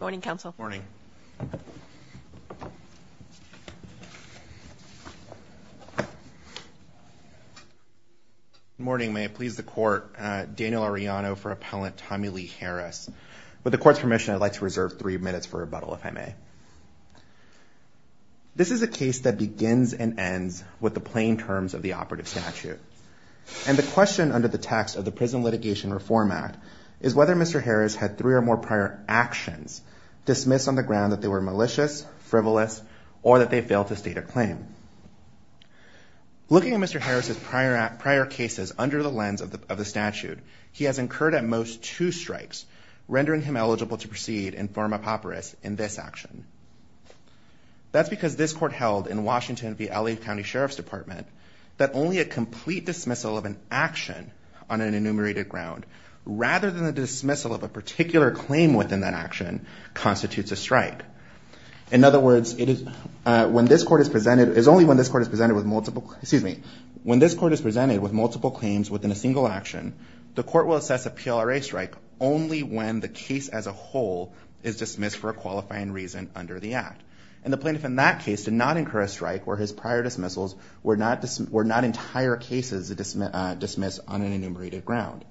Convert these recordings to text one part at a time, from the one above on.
Morning, counsel. Morning. Morning. May it please the court, Daniel Arellano for Appellant Tommie Lee Harris. With the court's permission, I'd like to reserve three minutes for rebuttal, if I may. This is a case that begins and ends with the plain terms of the operative statute. And the question under the text of the Prison Litigation Reform Act is whether Mr. Harris had three or more prior actions dismissed on the ground that they were malicious, frivolous, or that they failed to state a claim. Looking at Mr. Harris' prior cases under the lens of the statute, he has incurred at most two strikes, rendering him eligible to proceed and form a papyrus in this action. That's because this court held in Washington v. LA County Sheriff's Department that only a complete dismissal of an action on an enumerated ground, rather than the dismissal of a particular claim within that action, constitutes a strike. In other words, it is only when this court is presented with multiple claims within a single action, the court will assess a PLRA strike only when the case as a whole is dismissed for a qualifying reason under the Act. And the plaintiff in that case did not incur a strike where his prior dismissals were not entire cases dismissed on an enumerated ground.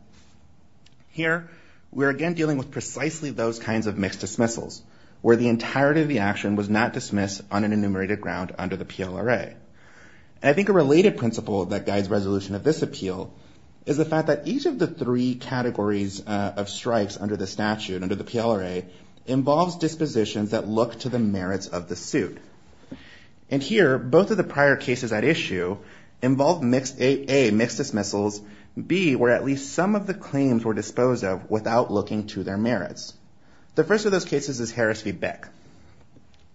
Here, we're again dealing with precisely those kinds of mixed dismissals, where the entirety of the action was not dismissed on an enumerated ground under the PLRA. I think a related principle that guides resolution of this appeal is the fact that each of the three categories of strikes under the statute, under the PLRA, involves dispositions that look to the merits of the suit. And here, both of the prior cases at issue involved A, mixed dismissals, B, where at least some of the claims were disposed of without looking to their merits. The first of those cases is Harris v. Bick,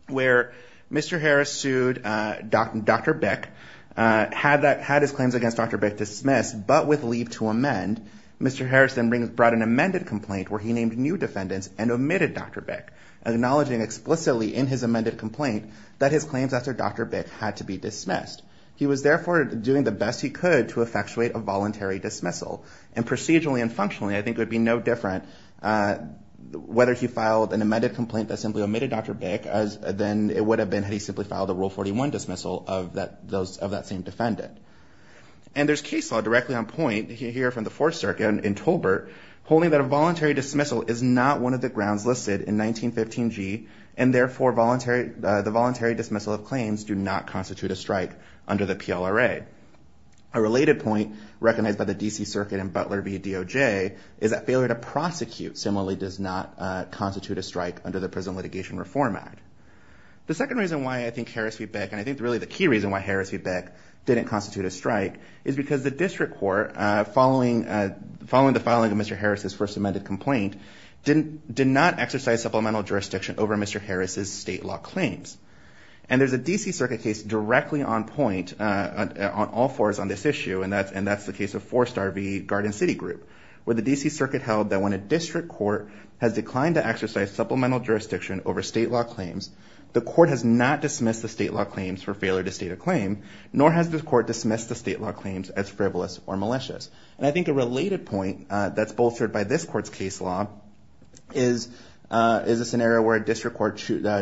where Mr. Harris sued Dr. Bick, had his claims against Dr. Bick dismissed, but with leave to amend. And Mr. Harris then brought an amended complaint where he named new defendants and omitted Dr. Bick, acknowledging explicitly in his amended complaint that his claims after Dr. Bick had to be dismissed. He was therefore doing the best he could to effectuate a voluntary dismissal. And procedurally and functionally, I think it would be no different whether he filed an amended complaint that simply omitted Dr. Bick than it would have been had he simply filed a Rule 41 dismissal of that same defendant. And there's case law directly on point here from the Fourth Circuit in Tolbert holding that a voluntary dismissal is not one of the grounds listed in 1915G, and therefore the voluntary dismissal of claims do not constitute a strike under the PLRA. A related point recognized by the D.C. Circuit and Butler v. DOJ is that failure to prosecute similarly does not constitute a strike under the Prison Litigation Reform Act. The second reason why I think Harris v. Bick, and I think really the key reason why Harris v. Bick didn't constitute a strike is because the district court, following the filing of Mr. Harris' first amended complaint, did not exercise supplemental jurisdiction over Mr. Harris' state law claims. And there's a D.C. Circuit case directly on point on all fours on this issue, and that's the case of Four Star v. Garden City Group, where the D.C. Circuit held that when a district court has declined to exercise supplemental jurisdiction over state law claims, the court has not dismissed the state law claims for failure to state a claim, nor has the court dismissed the state law claims as frivolous or malicious. And I think a related point that's bolstered by this court's case law is a scenario where a district court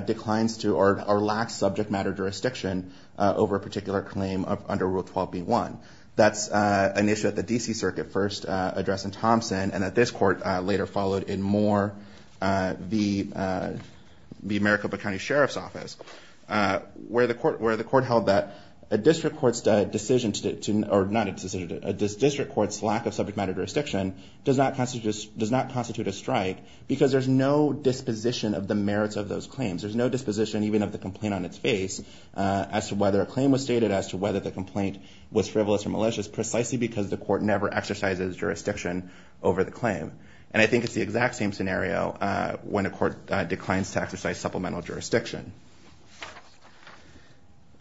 declines to or lacks subject matter jurisdiction over a particular claim under Rule 12b-1. That's an issue that the D.C. Circuit first addressed in Thompson, and that this court later followed in Moore v. Maricopa County Sheriff's Office, where the court held that a district court's decision to, or not a decision, a district court's lack of subject matter jurisdiction does not constitute a strike because there's no disposition of the merits of those claims. There's no disposition even of the complaint on its face as to whether a claim was stated as to whether the complaint was frivolous or malicious, precisely because the court never exercises jurisdiction over the claim. And I think it's the exact same scenario when a court declines to exercise supplemental jurisdiction.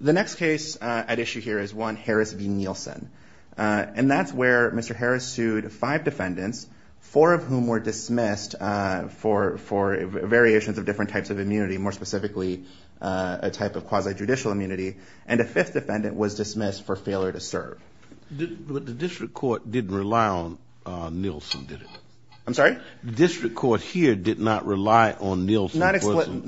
The next case at issue here is one Harris v. Nielsen, and that's where Mr. Harris sued five defendants, four of whom were dismissed for variations of different types of immunity, more specifically a type of quasi-judicial immunity, and a fifth defendant was dismissed for failure to serve. But the district court didn't rely on Nielsen, did it? I'm sorry? The district court here did not rely on Nielsen. Not explicitly.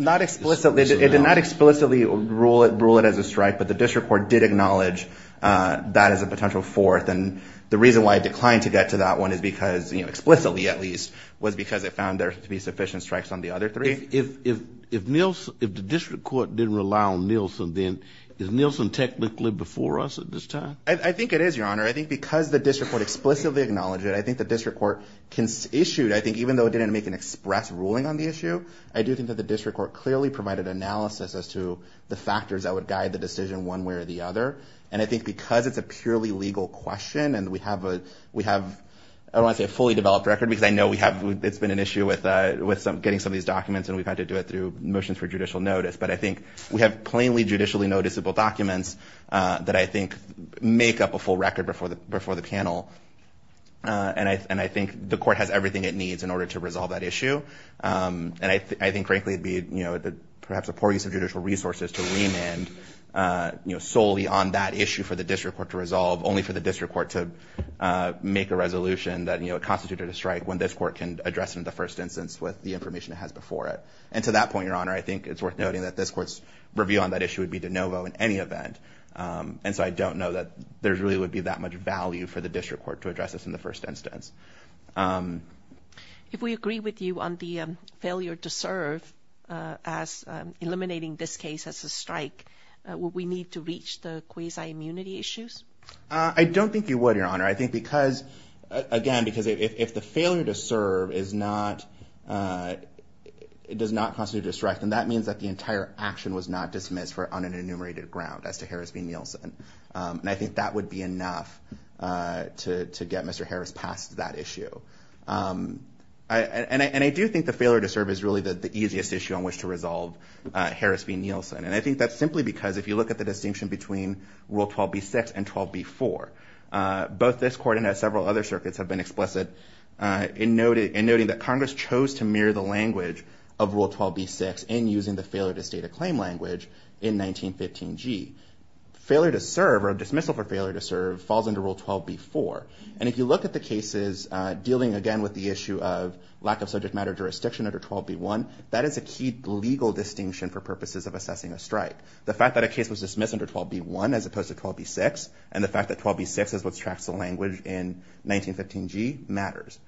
It did not explicitly rule it as a strike, but the district court did acknowledge that as a potential fourth, and the reason why it declined to get to that one is because, explicitly at least, was because it found there to be sufficient strikes on the other three. If the district court didn't rely on Nielsen, then is Nielsen technically before us at this time? I think it is, Your Honor. I think because the district court explicitly acknowledged it, I think the district court issued, I think even though it didn't make an express ruling on the issue, I do think that the district court clearly provided analysis as to the factors that would guide the decision one way or the other, and I think because it's a purely legal question and we have a fully developed record, because I know it's been an issue with getting some of these documents and we've had to do it through motions for judicial notice, but I think we have plainly judicially noticeable documents that I think make up a full record before the panel, and I think the court has everything it needs in order to resolve that issue, and I think frankly it would be perhaps a poor use of judicial resources to remand solely on that issue for the district court to resolve, only for the district court to make a resolution that constituted a strike when this court can address it in the first instance with the information it has before it. And to that point, Your Honor, I think it's worth noting that this court's review on that issue would be de novo in any event, and so I don't know that there really would be that much value for the district court to address this in the first instance. If we agree with you on the failure to serve as eliminating this case as a strike, would we need to reach the quasi-immunity issues? I don't think you would, Your Honor. I think because, again, because if the failure to serve does not constitute a strike, then that means that the entire action was not dismissed on an enumerated ground as to Harris v. Nielsen, and I think that would be enough to get Mr. Harris past that issue. And I do think the failure to serve is really the easiest issue on which to resolve Harris v. Nielsen, and I think that's simply because if you look at the distinction between Rule 12b-6 and 12b-4, both this court and several other circuits have been explicit in noting that Congress chose to mirror the language of Rule 12b-6 in using the failure to state a claim language in 1915G. Failure to serve or dismissal for failure to serve falls under Rule 12b-4, and if you look at the cases dealing, again, with the issue of lack of subject matter jurisdiction under 12b-1, that is a key legal distinction for purposes of assessing a strike. The fact that a case was dismissed under 12b-1 as opposed to 12b-6 and the fact that 12b-6 is what tracks the language in 1915G matters.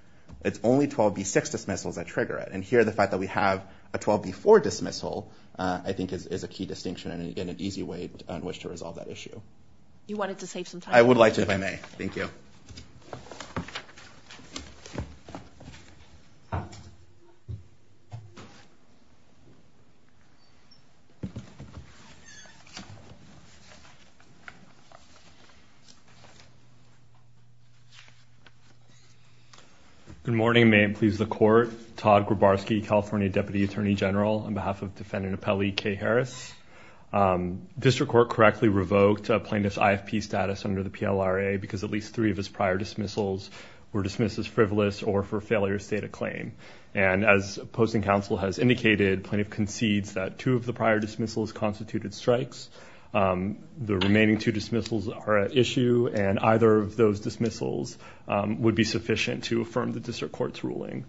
It's only 12b-6 dismissals that trigger it, and here the fact that we have a 12b-4 dismissal I think is a key distinction and, again, an easy way on which to resolve that issue. You wanted to save some time. I would like to if I may. Thank you. Good morning. May it please the Court. Todd Grabarsky, California Deputy Attorney General, on behalf of Defendant Appellee Kay Harris. District Court correctly revoked a plaintiff's IFP status under the PLRA because at least three of his prior dismissals were dismissed as frivolous or for failure to state a claim, and as opposing counsel has indicated, plaintiff concedes that two of the prior dismissals constituted strikes. The remaining two dismissals are at issue, and either of those dismissals would be sufficient to affirm the District Court's ruling.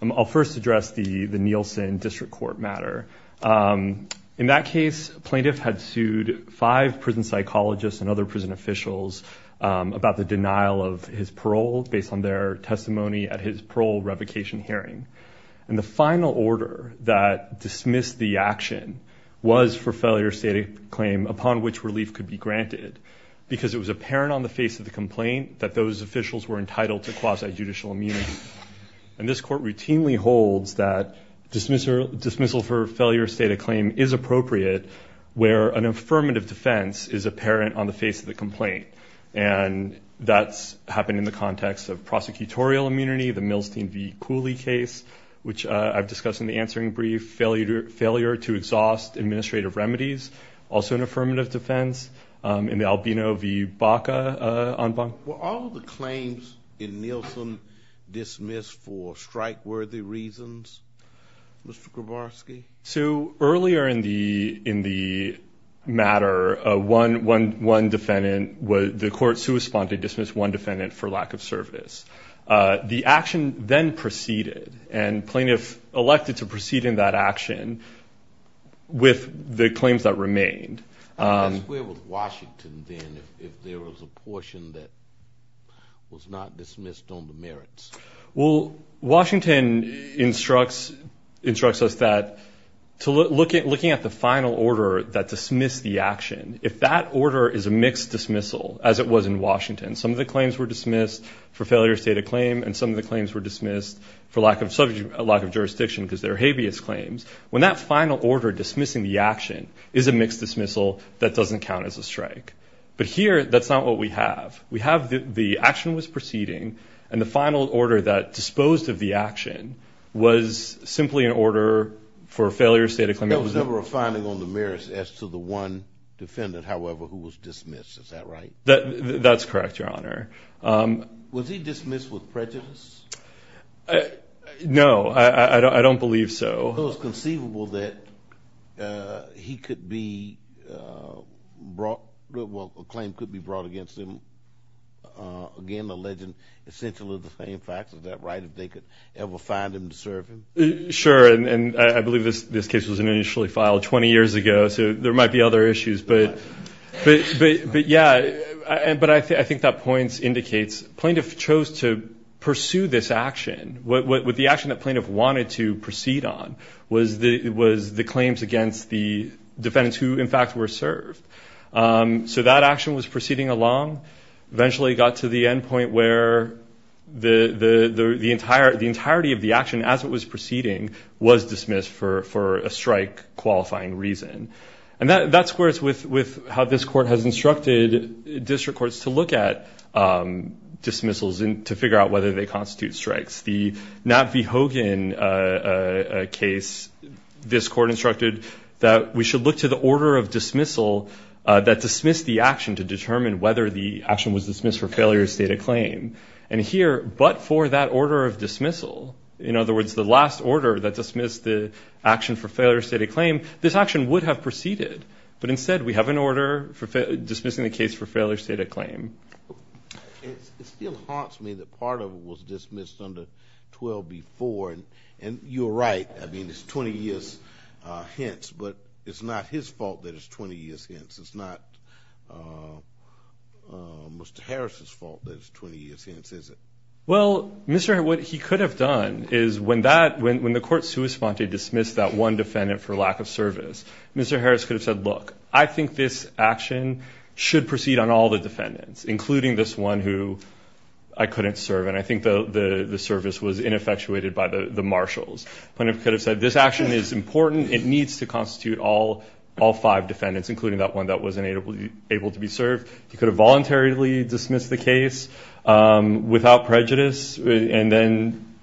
I'll first address the Nielsen District Court matter. In that case, plaintiff had sued five prison psychologists and other prison officials about the denial of his parole based on their testimony at his parole revocation hearing, and the final order that dismissed the action was for failure to state a claim upon which relief could be granted because it was apparent on the face of the complaint that those officials were entitled to quasi-judicial immunity, and this Court routinely holds that dismissal for failure to state a claim is appropriate where an affirmative defense is apparent on the face of the complaint, and that's happened in the context of prosecutorial immunity, the Milstein v. Cooley case, which I've discussed in the answering brief, failure to exhaust administrative remedies, also an affirmative defense, and the Albino v. Baca en banc. Were all of the claims in Nielsen dismissed for strike-worthy reasons, Mr. Grabarsky? So earlier in the matter, one defendant, the court's who responded dismissed one defendant for lack of service. The action then proceeded, and plaintiff elected to proceed in that action with the claims that remained. Where was Washington then if there was a portion that was not dismissed on the merits? Well, Washington instructs us that looking at the final order that dismissed the action, if that order is a mixed dismissal, as it was in Washington, some of the claims were dismissed for failure to state a claim and some of the claims were dismissed for lack of jurisdiction because they're habeas claims, when that final order dismissing the action is a mixed dismissal that doesn't count as a strike. But here, that's not what we have. We have the action was proceeding, and the final order that disposed of the action was simply an order for failure to state a claim. There was never a finding on the merits as to the one defendant, however, who was dismissed. Is that right? That's correct, Your Honor. Was he dismissed with prejudice? No, I don't believe so. It was conceivable that he could be brought, well, a claim could be brought against him, again, alleging essentially the same facts. Is that right, that they could ever find him to serve him? Sure, and I believe this case was initially filed 20 years ago, so there might be other issues. But, yeah, but I think that point indicates plaintiff chose to pursue this action. What the action that plaintiff wanted to proceed on was the claims against the defendants who, in fact, were served. So that action was proceeding along, eventually got to the end point where the entirety of the action, as it was proceeding, was dismissed for a strike-qualifying reason. And that squares with how this Court has instructed district courts to look at dismissals and to figure out whether they constitute strikes. The Nat V. Hogan case, this Court instructed that we should look to the order of dismissal that dismissed the action to determine whether the action was dismissed for failure of state of claim. And here, but for that order of dismissal, in other words, the last order that dismissed the action for failure of state of claim, this action would have proceeded. But instead, we have an order dismissing the case for failure of state of claim. It still haunts me that part of it was dismissed under 12B4. And you're right. I mean, it's 20 years hence. But it's not his fault that it's 20 years hence. It's not Mr. Harris' fault that it's 20 years hence, is it? Well, Mr. Harris, what he could have done is when that, when the Court sui sponte dismissed that one defendant for lack of service, Mr. Harris could have said, look, I think this action should proceed on all the defendants, including this one who I couldn't serve. And I think the service was ineffectuated by the marshals. Plaintiff could have said, this action is important. It needs to constitute all five defendants, including that one that wasn't able to be served. He could have voluntarily dismissed the case without prejudice and then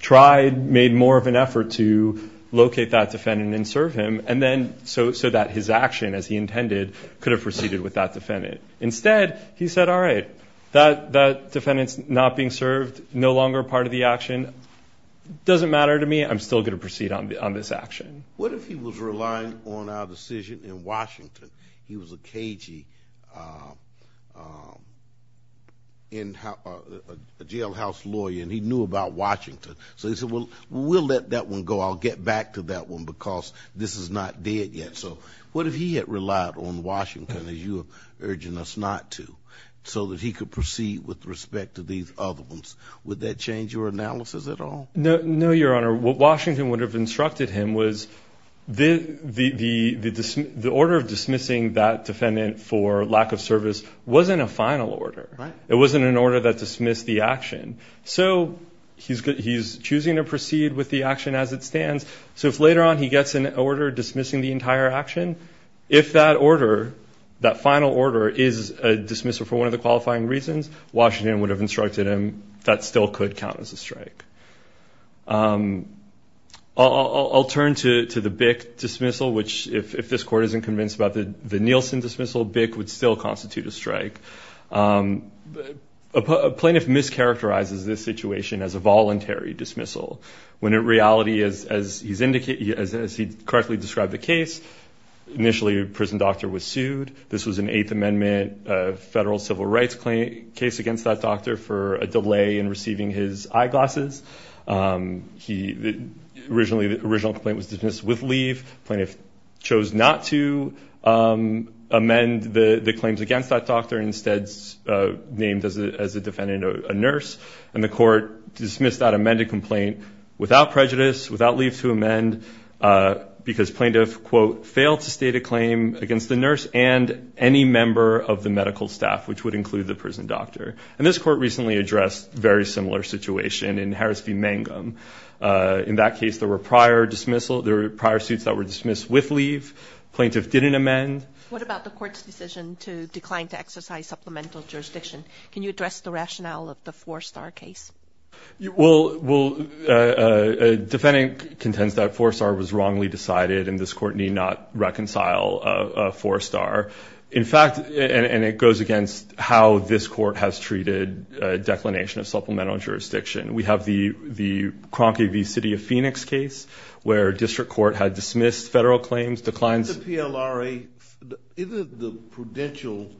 tried, made more of an effort to locate that defendant and serve him, and then so that his action, as he intended, could have proceeded with that defendant. Instead, he said, all right, that defendant's not being served, no longer part of the action, doesn't matter to me. I'm still going to proceed on this action. What if he was relying on our decision in Washington? He was a cagey jailhouse lawyer and he knew about Washington. So he said, well, we'll let that one go. I'll get back to that one because this is not dead yet. So what if he had relied on Washington, as you are urging us not to, so that he could proceed with respect to these other ones? Would that change your analysis at all? No, Your Honor. What Washington would have instructed him was the order of dismissing that defendant for lack of service wasn't a final order. Right. It wasn't an order that dismissed the action. So he's choosing to proceed with the action as it stands. So if later on he gets an order dismissing the entire action, if that order, that final order, is a dismissal for one of the qualifying reasons, Washington would have instructed him that still could count as a strike. I'll turn to the Bick dismissal, which if this Court isn't convinced about the Nielsen dismissal, Bick would still constitute a strike. A plaintiff mischaracterizes this situation as a voluntary dismissal when in reality, as he correctly described the case, initially a prison doctor was sued. This was an Eighth Amendment federal civil rights case against that doctor for a delay in receiving his eyeglasses. The original complaint was dismissed with leave. Plaintiff chose not to amend the claims against that doctor and instead named as a defendant a nurse. And the court dismissed that amended complaint without prejudice, without leave to amend, because plaintiff, quote, failed to state a claim against the nurse and any member of the medical staff, which would include the prison doctor. And this court recently addressed a very similar situation in Harris v. Mangum. In that case, there were prior dismissal, there were prior suits that were dismissed with leave. Plaintiff didn't amend. What about the court's decision to decline to exercise supplemental jurisdiction? Can you address the rationale of the four-star case? Well, a defendant contends that four-star was wrongly decided and this court need not reconcile a four-star. In fact, and it goes against how this court has treated declination of supplemental jurisdiction. We have the Cronky v. City of Phoenix case where district court had dismissed federal claims, declined. Isn't the PLRA, isn't the prudential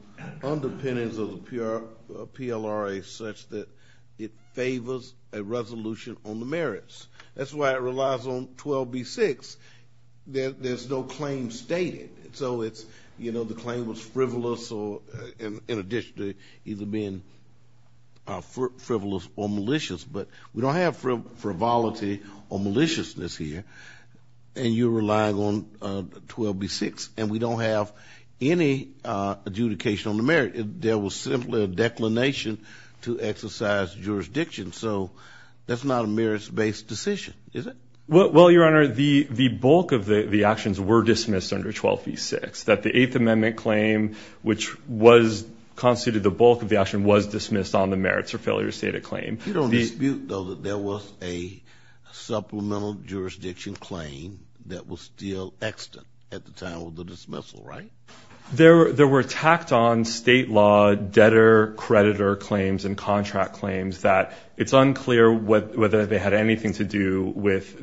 underpinnings of the PLRA such that it favors a resolution on the merits? That's why it relies on 12b-6. There's no claim stated. So it's, you know, the claim was frivolous or in addition to either being frivolous or malicious. But we don't have frivolity or maliciousness here. And you're relying on 12b-6. And we don't have any adjudication on the merit. There was simply a declination to exercise jurisdiction. So that's not a merits-based decision, is it? Well, Your Honor, the bulk of the actions were dismissed under 12b-6. That the Eighth Amendment claim, which was constituted the bulk of the action, was dismissed on the merits or failure to state a claim. You don't dispute, though, that there was a supplemental jurisdiction claim that was still extant at the time of the dismissal, right? There were tacked-on state law debtor-creditor claims and contract claims that it's unclear whether they had anything to do with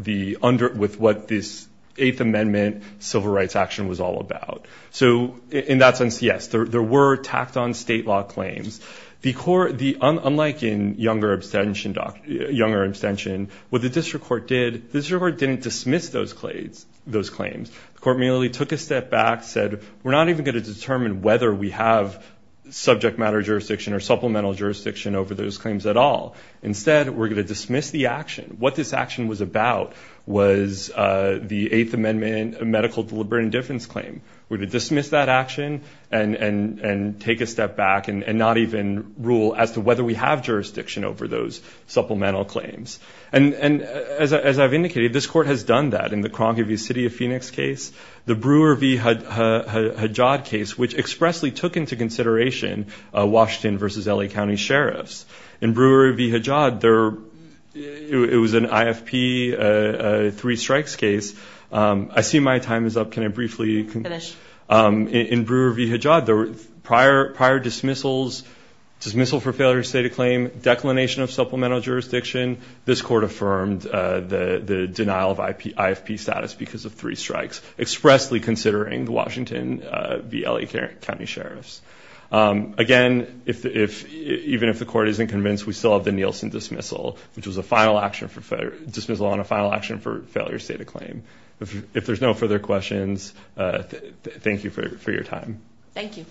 what this Eighth Amendment civil rights action was all about. So in that sense, yes, there were tacked-on state law claims. Unlike in younger abstention, what the district court did, the district court didn't dismiss those claims. The court merely took a step back, said, we're not even going to determine whether we have subject matter jurisdiction or supplemental jurisdiction over those claims at all. Instead, we're going to dismiss the action. What this action was about was the Eighth Amendment medical deliberate indifference claim. We're going to dismiss that action and take a step back and not even rule as to whether we have jurisdiction over those supplemental claims. And as I've indicated, this court has done that in the Cronkivy City of Phoenix case, the Brewer v. Hadjad case, which expressly took into consideration Washington versus L.A. County sheriffs. In Brewer v. Hadjad, it was an IFP three strikes case. I see my time is up. Can I briefly finish? In Brewer v. Hadjad, there were prior dismissals, dismissal for failure to state a claim, declination of supplemental jurisdiction. This court affirmed the denial of IFP status because of three strikes, expressly considering the Washington v. L.A. County sheriffs. Again, even if the court isn't convinced, we still have the Nielsen dismissal, which was a final action for dismissal and a final action for failure to state a claim. If there's no further questions, thank you for your time. Thank you.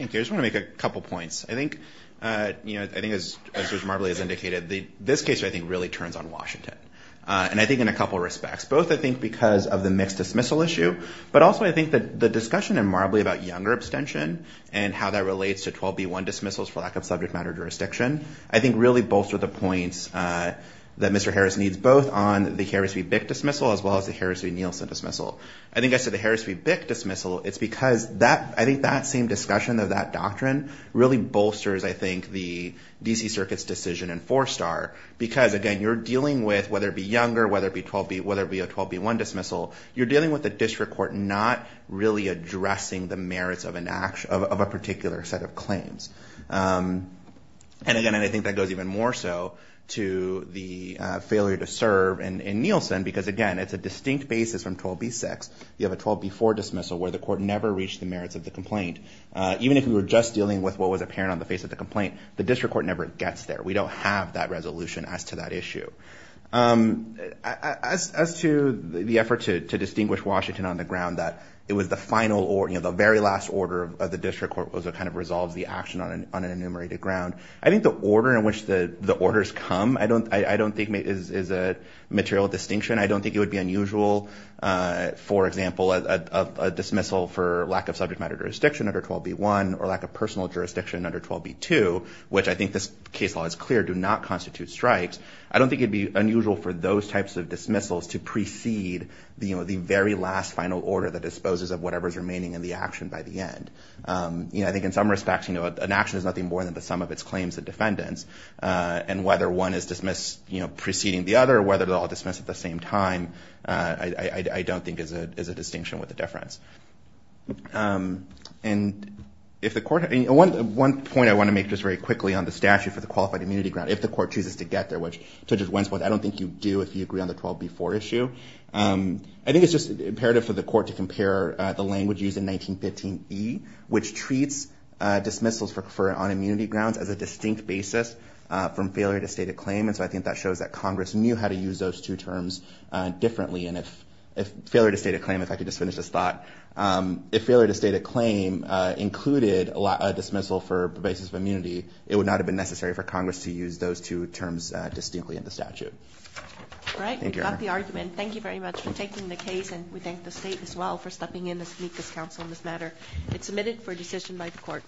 I just want to make a couple points. I think, you know, I think as Marbley has indicated, this case, I think, really turns on Washington. And I think in a couple of respects, both, I think, because of the mixed dismissal issue, but also I think that the discussion in Marbley about younger abstention and how that relates to 12b1 dismissals for lack of subject matter jurisdiction, I think really bolster the points that Mr. Harris needs both on the Harris v. Bick dismissal as well as the Harris v. Nielsen dismissal. I think as to the Harris v. Bick dismissal, it's because that I think that same discussion of that doctrine really bolsters, I think, the D.C. Circuit's decision in four star because, again, you're dealing with whether it be younger, whether it be 12b1 dismissal, you're dealing with the district court not really addressing the merits of a particular set of claims. And again, I think that goes even more so to the failure to serve in Nielsen because, again, it's a distinct basis from 12b6. You have a 12b4 dismissal where the court never reached the merits of the complaint. Even if we were just dealing with what was apparent on the face of the complaint, the district court never gets there. We don't have that resolution as to that issue. As to the effort to distinguish Washington on the ground that it was the final or, you know, the very last order of the district court was to kind of resolve the action on an enumerated ground, I think the order in which the orders come, I don't think, is a material distinction. I don't think it would be unusual, for example, a dismissal for lack of subject matter jurisdiction under 12b1 or lack of personal jurisdiction under 12b2, which I think this case law is clear do not constitute strikes. I don't think it would be unusual for those types of dismissals to precede, you know, the very last final order that disposes of whatever is remaining in the action by the end. You know, I think in some respects, you know, an action is nothing more than the sum of its claims and defendants. And whether one is dismissed, you know, preceding the other, whether they're all dismissed at the same time, I don't think is a distinction with the difference. And if the court had any – one point I want to make just very quickly on the statute for the qualified immunity grant. If the court chooses to get there, which Judge Wentz, I don't think you do if you agree on the 12b4 issue. I think it's just imperative for the court to compare the language used in 1915e, which treats dismissals on immunity grounds as a distinct basis from failure to state a claim. And so I think that shows that Congress knew how to use those two terms differently. And if failure to state a claim, if I could just finish this thought, if failure to state a claim included a dismissal for basis of immunity, it would not have been necessary for Congress to use those two terms distinctly in the statute. All right, we've got the argument. Thank you very much for taking the case, and we thank the state as well for stepping in to meet this counsel on this matter. It's submitted for decision by the court.